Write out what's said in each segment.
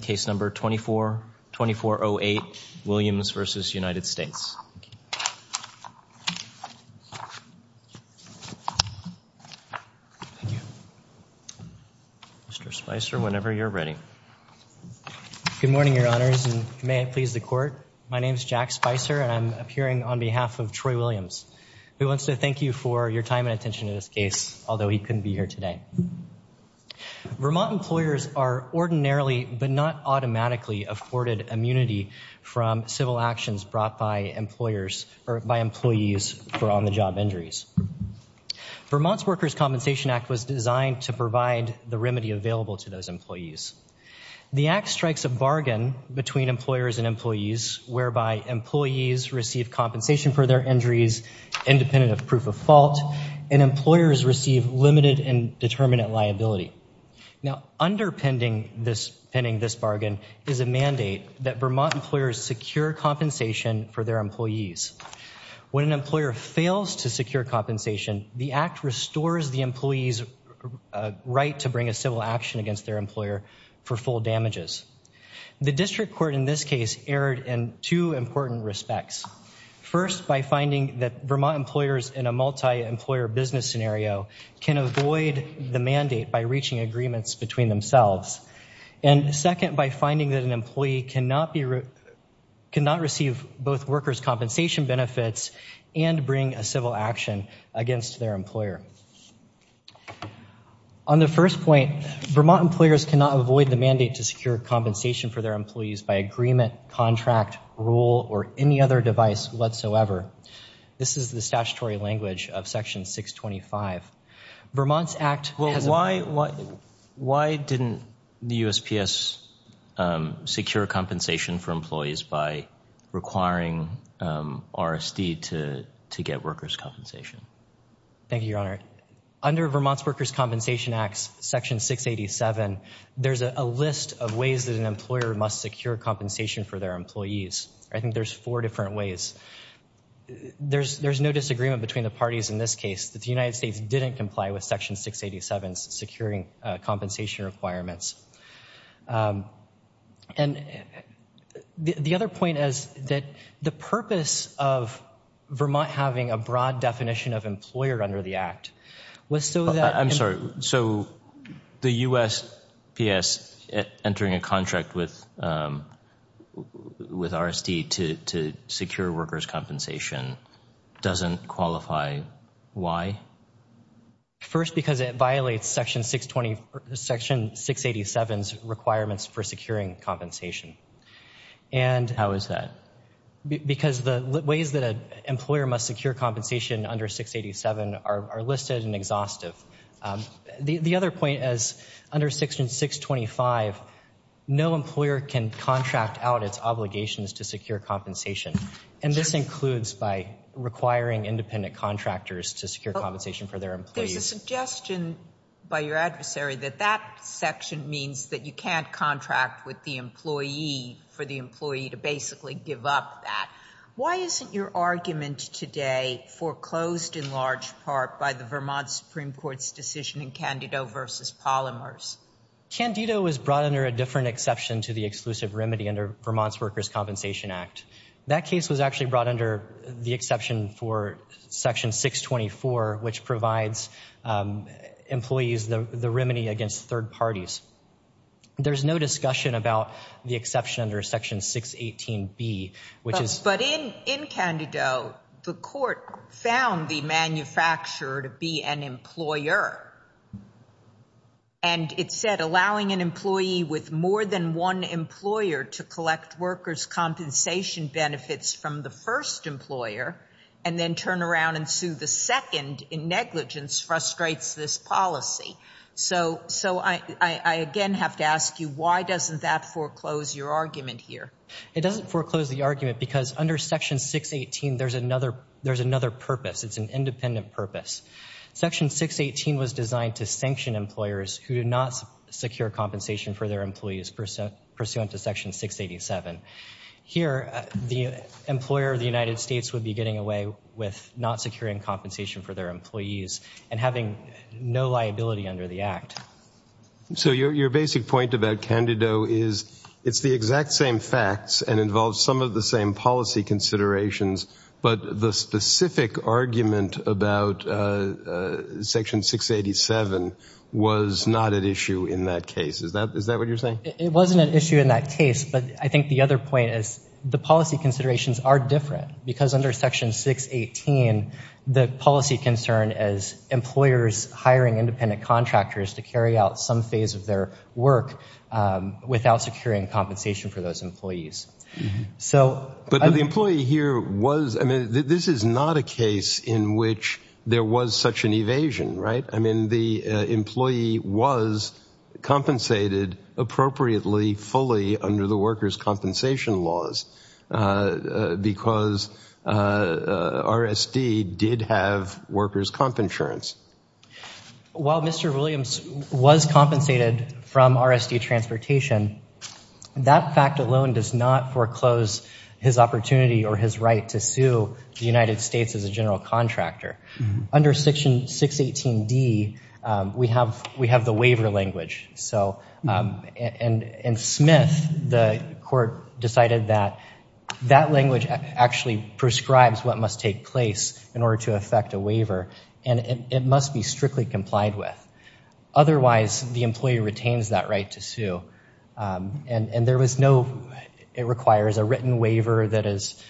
case number 24-2408, Williams v. United States. Mr. Spicer, whenever you're ready. Good morning, Your Honors, and may it please the Court. My name is Jack Spicer, and I'm appearing on behalf of Troy Williams, who wants to thank you for your time and attention to this case, although he couldn't be here today. Vermont employers are ordinarily, but not automatically, afforded immunity from civil actions brought by employers or by employees for on-the-job injuries. Vermont's Workers' Compensation Act was designed to provide the remedy available to those employees. The Act strikes a bargain between employers and employees, whereby employees receive compensation for their injuries, independent of proof of fault, and employers receive limited and determinate liability. Now, underpinning this bargain is a mandate that Vermont employers secure compensation for their employees. When an employer fails to secure compensation, the Act restores the employee's right to bring a civil action against their employer for full damages. The District Court in this case erred in two important respects. First, by finding that Vermont employers in a multi-employer business scenario can avoid the mandate by reaching agreements between themselves. And second, by finding that an employee cannot receive both workers' compensation benefits and bring a civil action against their employer. On the first point, Vermont employers cannot avoid the mandate to secure compensation for their employees by agreement, contract, rule, or any other device whatsoever. This is the statutory language of Section 625. Vermont's Act has a... Well, why didn't the USPS secure compensation for employees by requiring RSD to get workers' Thank you, Your Honor. Under Vermont's Workers' Compensation Act, Section 687, there's a list of ways that an employer must secure compensation for their employees. I think there's four different ways. There's no disagreement between the parties in this case that the United States didn't comply with Section 687's securing compensation requirements. And the other point is that the purpose of Vermont having a broad definition of employer under the Act was so that... I'm sorry. So the USPS entering a contract with RSD to secure workers' compensation doesn't qualify. First, because it violates Section 627's requirements for securing compensation. And... How is that? Because the ways that an employer must secure compensation under Section 687 are listed and exhaustive. The other point is, under Section 625, no employer can contract out its obligations to secure compensation. And this includes by requiring independent contractors to secure compensation for their employees. There's a suggestion by your adversary that that section means that you can't contract with the employee for the employee to basically give up that. Why isn't your argument today foreclosed in large part by the Vermont Supreme Court's decision in Candido v. Polymers? Candido was brought under a different exception to the exclusive remedy under Vermont's Workers' Compensation Act. That case was actually brought under the exception for Section 624, which provides employees the remedy against third parties. There's no discussion about the exception under Section 618B, which is... But in Candido, the court found the manufacturer to be an employer. And it said, allowing an employee with more than one employer to collect workers' compensation benefits from the first employer and then turn around and sue the second in negligence frustrates this policy. So I again have to ask you, why doesn't that foreclose your argument here? It doesn't foreclose the argument because under Section 618, there's another purpose. It's an independent purpose. Section 618 was designed to sanction employers who did not secure compensation for their employees pursuant to Section 687. Here, the employer of the United States would be getting away with not securing compensation for their employees and having no liability under the Act. So your basic point about Candido is it's the exact same facts and involves some of the same policy considerations, but the specific argument about Section 687 was not at issue in that case. Is that what you're saying? It wasn't an issue in that case, but I think the other point is the policy considerations are different because under Section 618, the policy concern is employers hiring independent contractors to carry out some phase of their work without securing compensation for those But the employee here was, I mean, this is not a case in which there was such an evasion, right? I mean, the employee was compensated appropriately, fully under the workers' compensation laws. Because RSD did have workers' comp insurance. While Mr. Williams was compensated from RSD transportation, that fact alone does not foreclose his opportunity or his right to sue the United States as a general contractor. Under Section 618D, we have the waiver language. In Smith, the court decided that that language actually prescribes what must take place in order to effect a waiver, and it must be strictly complied with. Otherwise, the employee retains that right to sue, and it requires a written waiver that is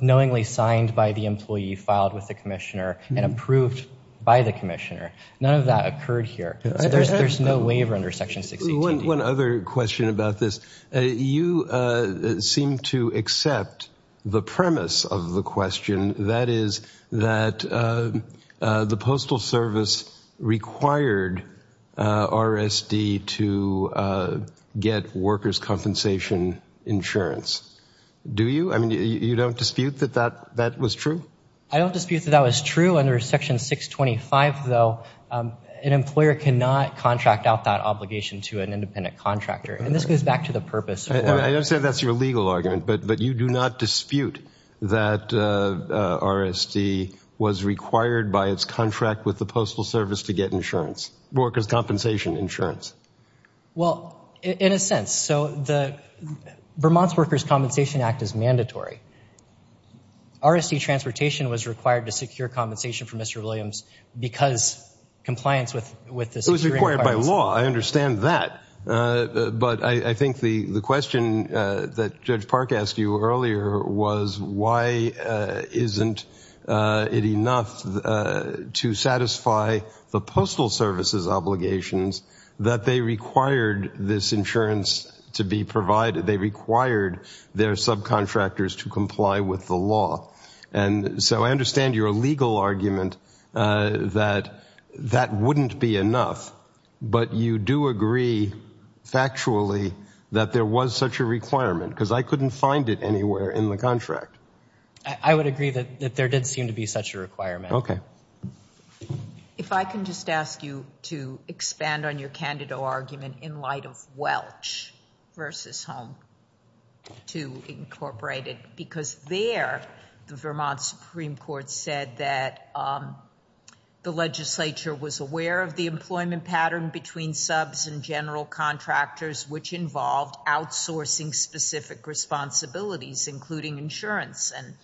knowingly signed by the employee, filed with the commissioner, and approved by the None of that occurred here. There's no waiver under Section 618. One other question about this. You seem to accept the premise of the question, that is that the Postal Service required RSD to get workers' compensation insurance. Do you? I mean, you don't dispute that that was true? I don't dispute that that was true. Under Section 625, though, an employer cannot contract out that obligation to an independent contractor. And this goes back to the purpose. I understand that's your legal argument, but you do not dispute that RSD was required by its contract with the Postal Service to get insurance, workers' compensation insurance. Well, in a sense, so the Vermont's Workers' Compensation Act is mandatory. RSD transportation was required to secure compensation for Mr. Williams because compliance with the security requirements. It was required by law. I understand that. But I think the question that Judge Park asked you earlier was, why isn't it enough to satisfy the Postal Service's obligations that they required this insurance to be provided? They required their subcontractors to comply with the law. And so I understand your legal argument that that wouldn't be enough. But you do agree, factually, that there was such a requirement, because I couldn't find it anywhere in the contract. I would agree that there did seem to be such a requirement. Okay. If I can just ask you to expand on your candidate argument in light of Welch versus Home to Incorporated, because there, the Vermont Supreme Court said that the legislature was aware of the employment pattern between subs and general contractors, which involved outsourcing specific responsibilities, including insurance. And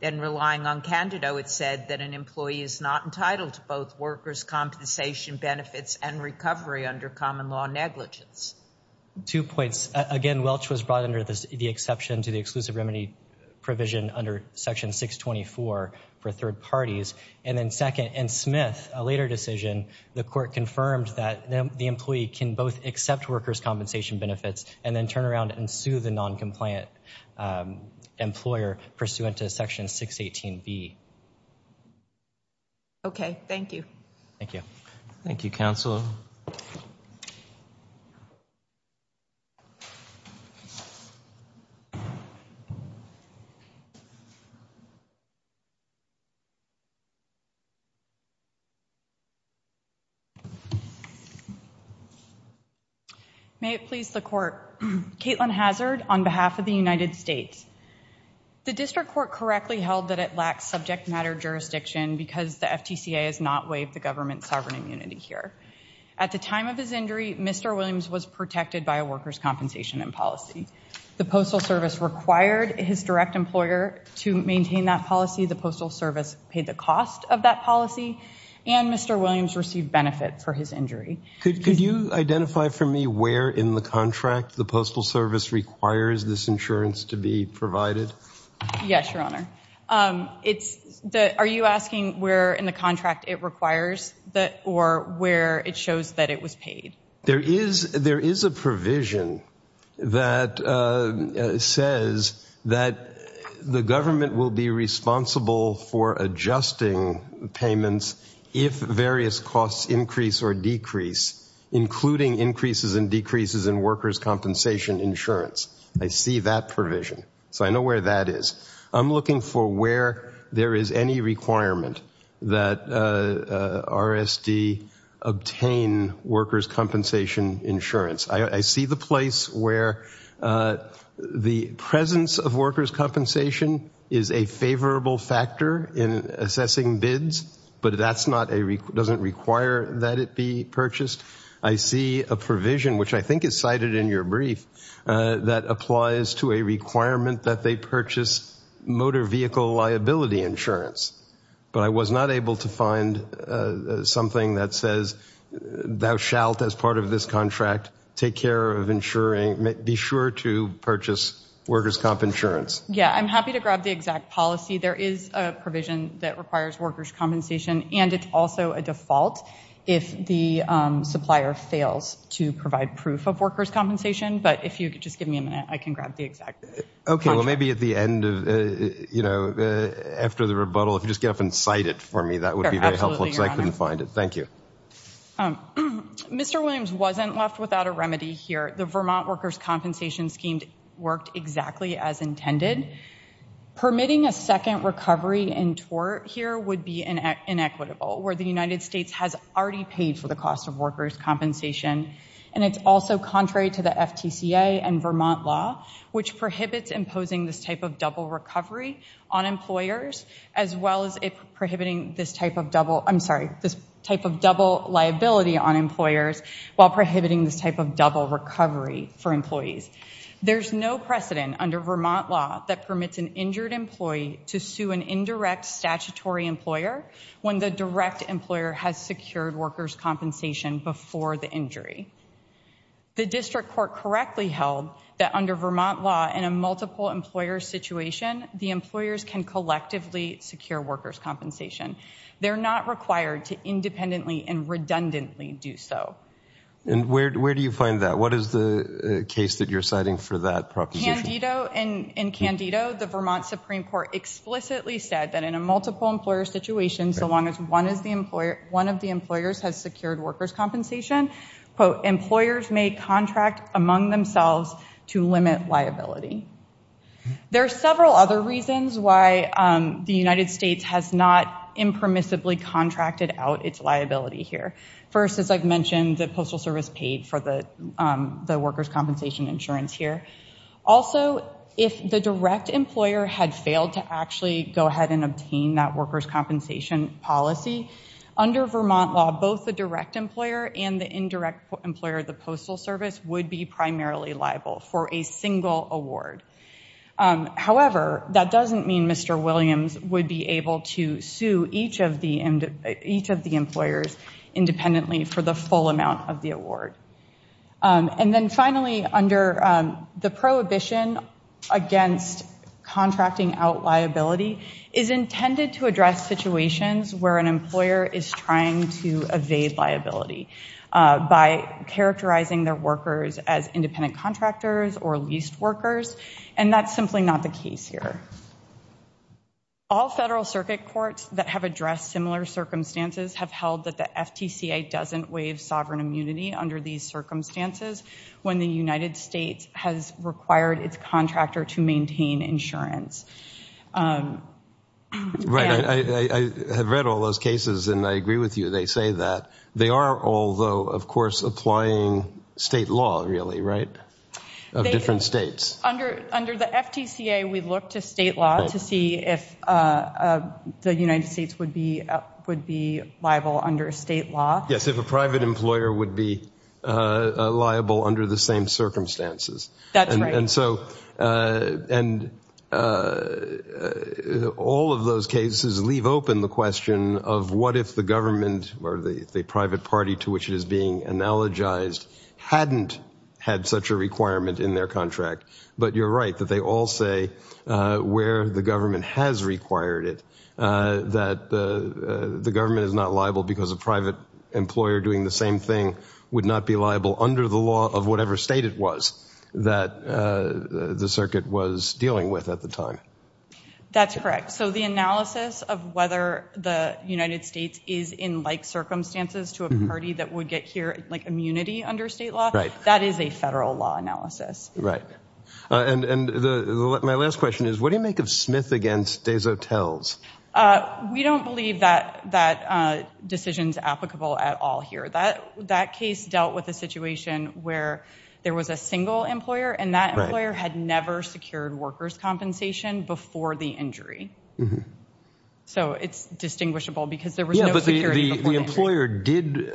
then relying on candidate, it said that an employee is not entitled to both workers' compensation benefits and recovery under common law negligence. Two points. First, again, Welch was brought under the exception to the exclusive remedy provision under Section 624 for third parties. And then second, in Smith, a later decision, the court confirmed that the employee can both accept workers' compensation benefits and then turn around and sue the non-compliant employer pursuant to Section 618B. Okay. Thank you. Thank you. Thank you, Counsel. Counsel? May it please the Court. Kaitlin Hazard on behalf of the United States. The district court correctly held that it lacks subject matter jurisdiction because the FTCA has not waived the government's sovereign immunity here. At the time of his injury, Mr. Williams was protected by a workers' compensation policy. The Postal Service required his direct employer to maintain that policy. The Postal Service paid the cost of that policy, and Mr. Williams received benefit for his Could you identify for me where in the contract the Postal Service requires this insurance to be provided? Yes, Your Honor. Are you asking where in the contract it requires or where it shows that it was paid? There is a provision that says that the government will be responsible for adjusting payments if various costs increase or decrease, including increases and decreases in workers' compensation insurance. I see that provision, so I know where that is. I'm looking for where there is any requirement that RSD obtain workers' compensation insurance. I see the place where the presence of workers' compensation is a favorable factor in assessing bids, but that doesn't require that it be purchased. I see a provision, which I think is cited in your brief, that applies to a requirement that they purchase motor vehicle liability insurance, but I was not able to find something that says, thou shalt, as part of this contract, take care of insuring, be sure to purchase workers' comp insurance. Yeah, I'm happy to grab the exact policy. There is a provision that requires workers' compensation, and it's also a default if the supplier fails to provide proof of workers' compensation, but if you could just give me a minute, I can grab the exact policy. Okay, well, maybe at the end of, you know, after the rebuttal, if you just get up and cite it for me, that would be very helpful, because I couldn't find it. Thank you. Mr. Williams wasn't left without a remedy here. The Vermont workers' compensation scheme worked exactly as intended. Permitting a second recovery in tort here would be inequitable, where the United States has already paid for the cost of workers' compensation, and it's also contrary to the prohibits imposing this type of double recovery on employers, as well as prohibiting this type of double, I'm sorry, this type of double liability on employers, while prohibiting this type of double recovery for employees. There's no precedent under Vermont law that permits an injured employee to sue an indirect statutory employer when the direct employer has secured workers' compensation before the employee. The district court correctly held that under Vermont law, in a multiple-employer situation, the employers can collectively secure workers' compensation. They're not required to independently and redundantly do so. And where do you find that? What is the case that you're citing for that proposition? In Candido, the Vermont Supreme Court explicitly said that in a multiple-employer situation, so long as one of the employers has secured workers' compensation, quote, employers may contract among themselves to limit liability. There are several other reasons why the United States has not impermissibly contracted out its liability here. First, as I've mentioned, the Postal Service paid for the workers' compensation insurance here. Also, if the direct employer had failed to actually go ahead and obtain that workers' compensation policy, under Vermont law, both the direct employer and the indirect employer of the Postal Service would be primarily liable for a single award. However, that doesn't mean Mr. Williams would be able to sue each of the employers independently for the full amount of the award. And then finally, under the prohibition against contracting out liability is intended to address situations where an employer is trying to evade liability by characterizing their workers as independent contractors or leased workers, and that's simply not the case here. All federal circuit courts that have addressed similar circumstances have held that the FTCA doesn't waive sovereign immunity under these circumstances when the United States has required its contractor to maintain insurance. Right. I have read all those cases and I agree with you. They say that. They are all, though, of course, applying state law, really, right, of different states. Under the FTCA, we look to state law to see if the United States would be liable under state law. Yes, if a private employer would be liable under the same circumstances. That's right. And so, and all of those cases leave open the question of what if the government or the private party to which it is being analogized hadn't had such a requirement in their contract. But you're right that they all say where the government has required it, that the government is not liable because a private employer doing the same thing would not be liable under the law of whatever state it was that the circuit was dealing with at the time. That's correct. So the analysis of whether the United States is in like circumstances to a party that would get here, like immunity under state law, that is a federal law analysis. And my last question is, what do you make of Smith against Dezotel's? We don't believe that decision's applicable at all here. That case dealt with a situation where there was a single employer and that employer had never secured workers' compensation before the injury. So it's distinguishable because there was no security before the injury. The employer did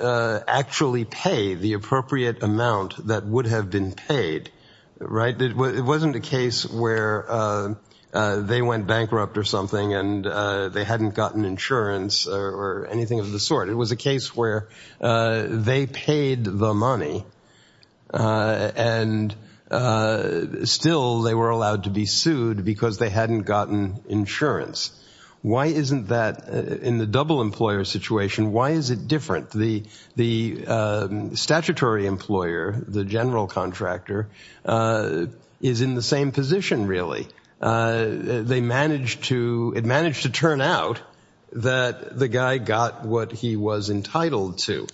actually pay the appropriate amount that would have been paid, right? It wasn't a case where they went bankrupt or something and they hadn't gotten insurance or anything of the sort. It was a case where they paid the money and still they were allowed to be sued because they hadn't gotten insurance. Why isn't that, in the double employer situation, why is it different? The statutory employer, the general contractor, is in the same position, really. They managed to, it managed to turn out that the guy got what he was entitled to.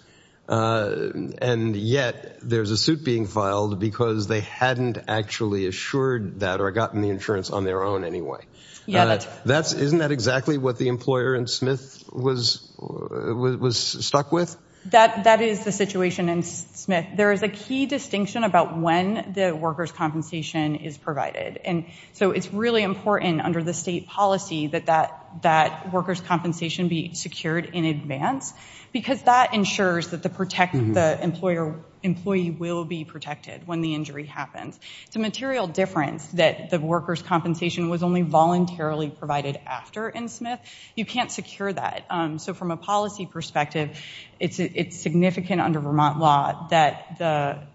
And yet there's a suit being filed because they hadn't actually assured that or gotten the insurance on their own anyway. Isn't that exactly what the employer in Smith was stuck with? That is the situation in Smith. There is a key distinction about when the workers' compensation is provided. And so it's really important under the state policy that that workers' compensation be secured in advance because that ensures that the employee will be protected when the injury happens. It's a material difference that the workers' compensation was only voluntarily provided after in Smith. You can't secure that. So from a policy perspective, it's significant under Vermont law that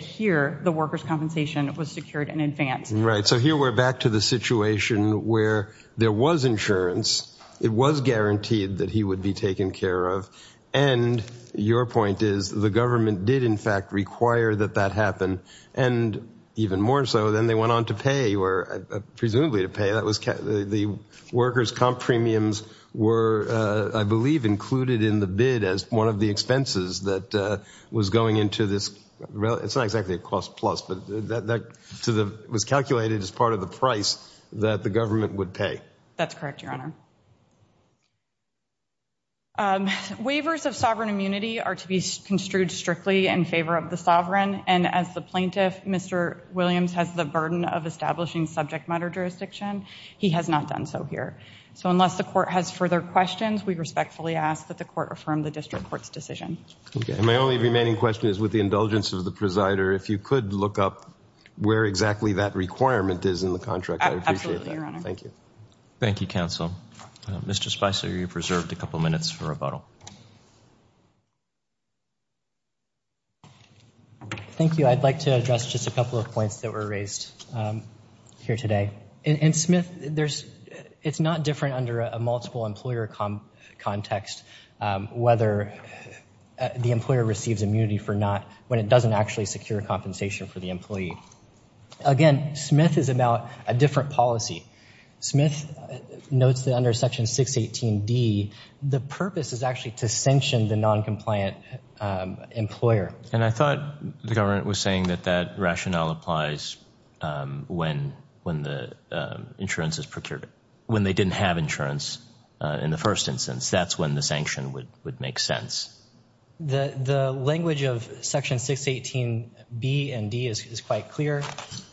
here the workers' compensation was secured in advance. Right. So here we're back to the situation where there was insurance. It was guaranteed that he would be taken care of. And your point is the government did in fact require that that happen. And even more so, then they went on to pay, or presumably to pay. The workers' comp premiums were, I believe, included in the bid as one of the expenses that was going into this. It's not exactly a cost plus, but that was calculated as part of the price that the government would pay. That's correct, Your Honor. Waivers of sovereign immunity are to be construed strictly in favor of the sovereign. And as the plaintiff, Mr. Williams, has the burden of establishing subject matter jurisdiction, he has not done so here. So unless the court has further questions, we respectfully ask that the court affirm the district court's decision. And my only remaining question is, with the indulgence of the presider, if you could look up where exactly that requirement is in the contract, I'd appreciate that. Absolutely, Your Honor. Thank you. Thank you, counsel. Mr. Spicer, you're preserved a couple minutes for rebuttal. Thank you. I'd like to address just a couple of points that were raised here today. In Smith, it's not different under a multiple employer context whether the employer receives immunity or not when it doesn't actually secure compensation for the employee. Again, Smith is about a different policy. Smith notes that under Section 618D, the purpose is actually to sanction the noncompliant employer. And I thought the government was saying that that rationale applies when the insurance is procured. When they didn't have insurance in the first instance, that's when the sanction would make sense. The language of Section 618B and D is quite clear.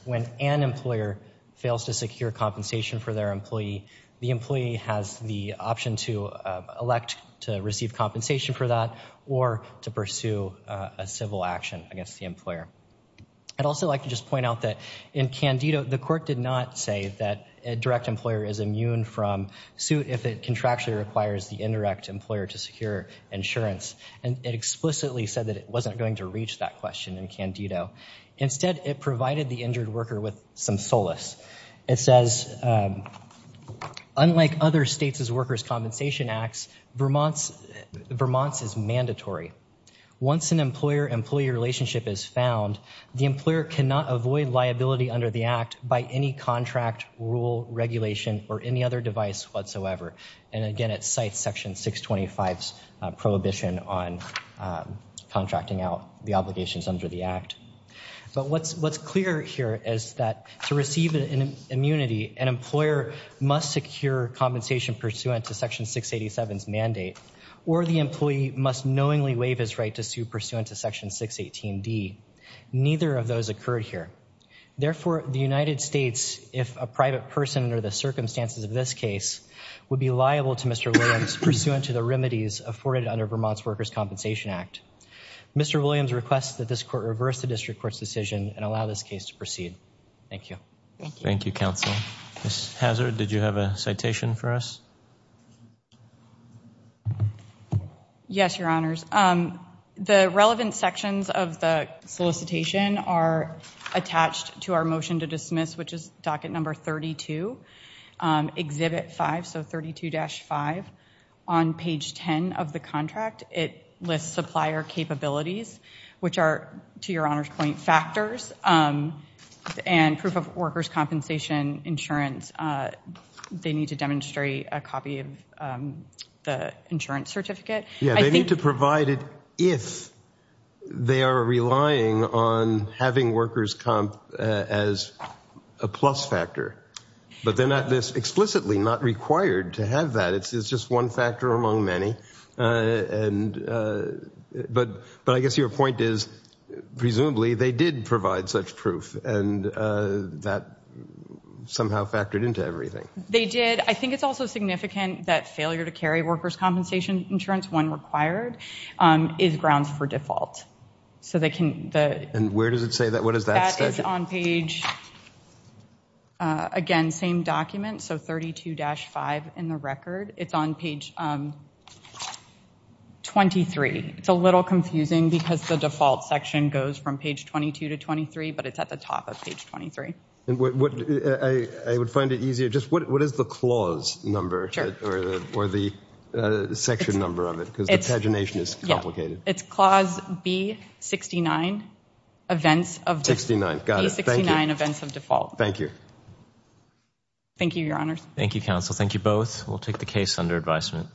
When an employer fails to secure compensation for their employee, the employee has the option to elect to receive compensation for that or to pursue a civil action against the employer. I'd also like to just point out that in Candido, the court did not say that a direct employer is immune from suit if it contractually requires the indirect employer to secure insurance. And it explicitly said that it wasn't going to reach that question in Candido. Instead, it provided the injured worker with some solace. It says, unlike other states' workers' compensation acts, Vermont's is mandatory. Once an employer-employee relationship is found, the employer cannot avoid liability under the act by any contract, rule, regulation, or any other device whatsoever. And again, it cites Section 625's prohibition on contracting out the obligations under the act. But what's clear here is that to receive an immunity, an employer must secure compensation pursuant to Section 687's mandate, or the employee must knowingly waive his right to sue pursuant to Section 618D. Neither of those occurred here. Therefore, the United States, if a private person under the circumstances of this case, would be liable to Mr. Williams pursuant to the remedies afforded under Vermont's Workers' Compensation Act. Mr. Williams requests that this court reverse the district court's decision and allow this case to proceed. Thank you. Thank you, counsel. Ms. Hazard, did you have a citation for us? Yes, your honors. The relevant sections of the solicitation are attached to our motion to dismiss, which is docket number 32, exhibit 5, so 32-5. On page 10 of the contract, it lists supplier capabilities, which are, to your honors' point, factors, and proof of workers' compensation insurance. They need to demonstrate a copy of the insurance certificate. Yeah, they need to provide it if they are relying on having workers' comp as a plus factor. But they're not explicitly not required to have that. It's just one factor among many. But I guess your point is, presumably, they did provide such proof, and that somehow factored into everything. They did. I think it's also significant that failure to carry workers' compensation insurance when required is grounds for default. So they can... And where does it say that? What does that say? It's on page, again, same document, so 32-5 in the record. It's on page 23. It's a little confusing because the default section goes from page 22 to 23, but it's at the top of page 23. I would find it easier, just what is the clause number or the section number of it? Because the pagination is complicated. It's clause B69, events of default. Thank you. Thank you, your honors. Thank you, counsel. Thank you both. We'll take the case under advisement.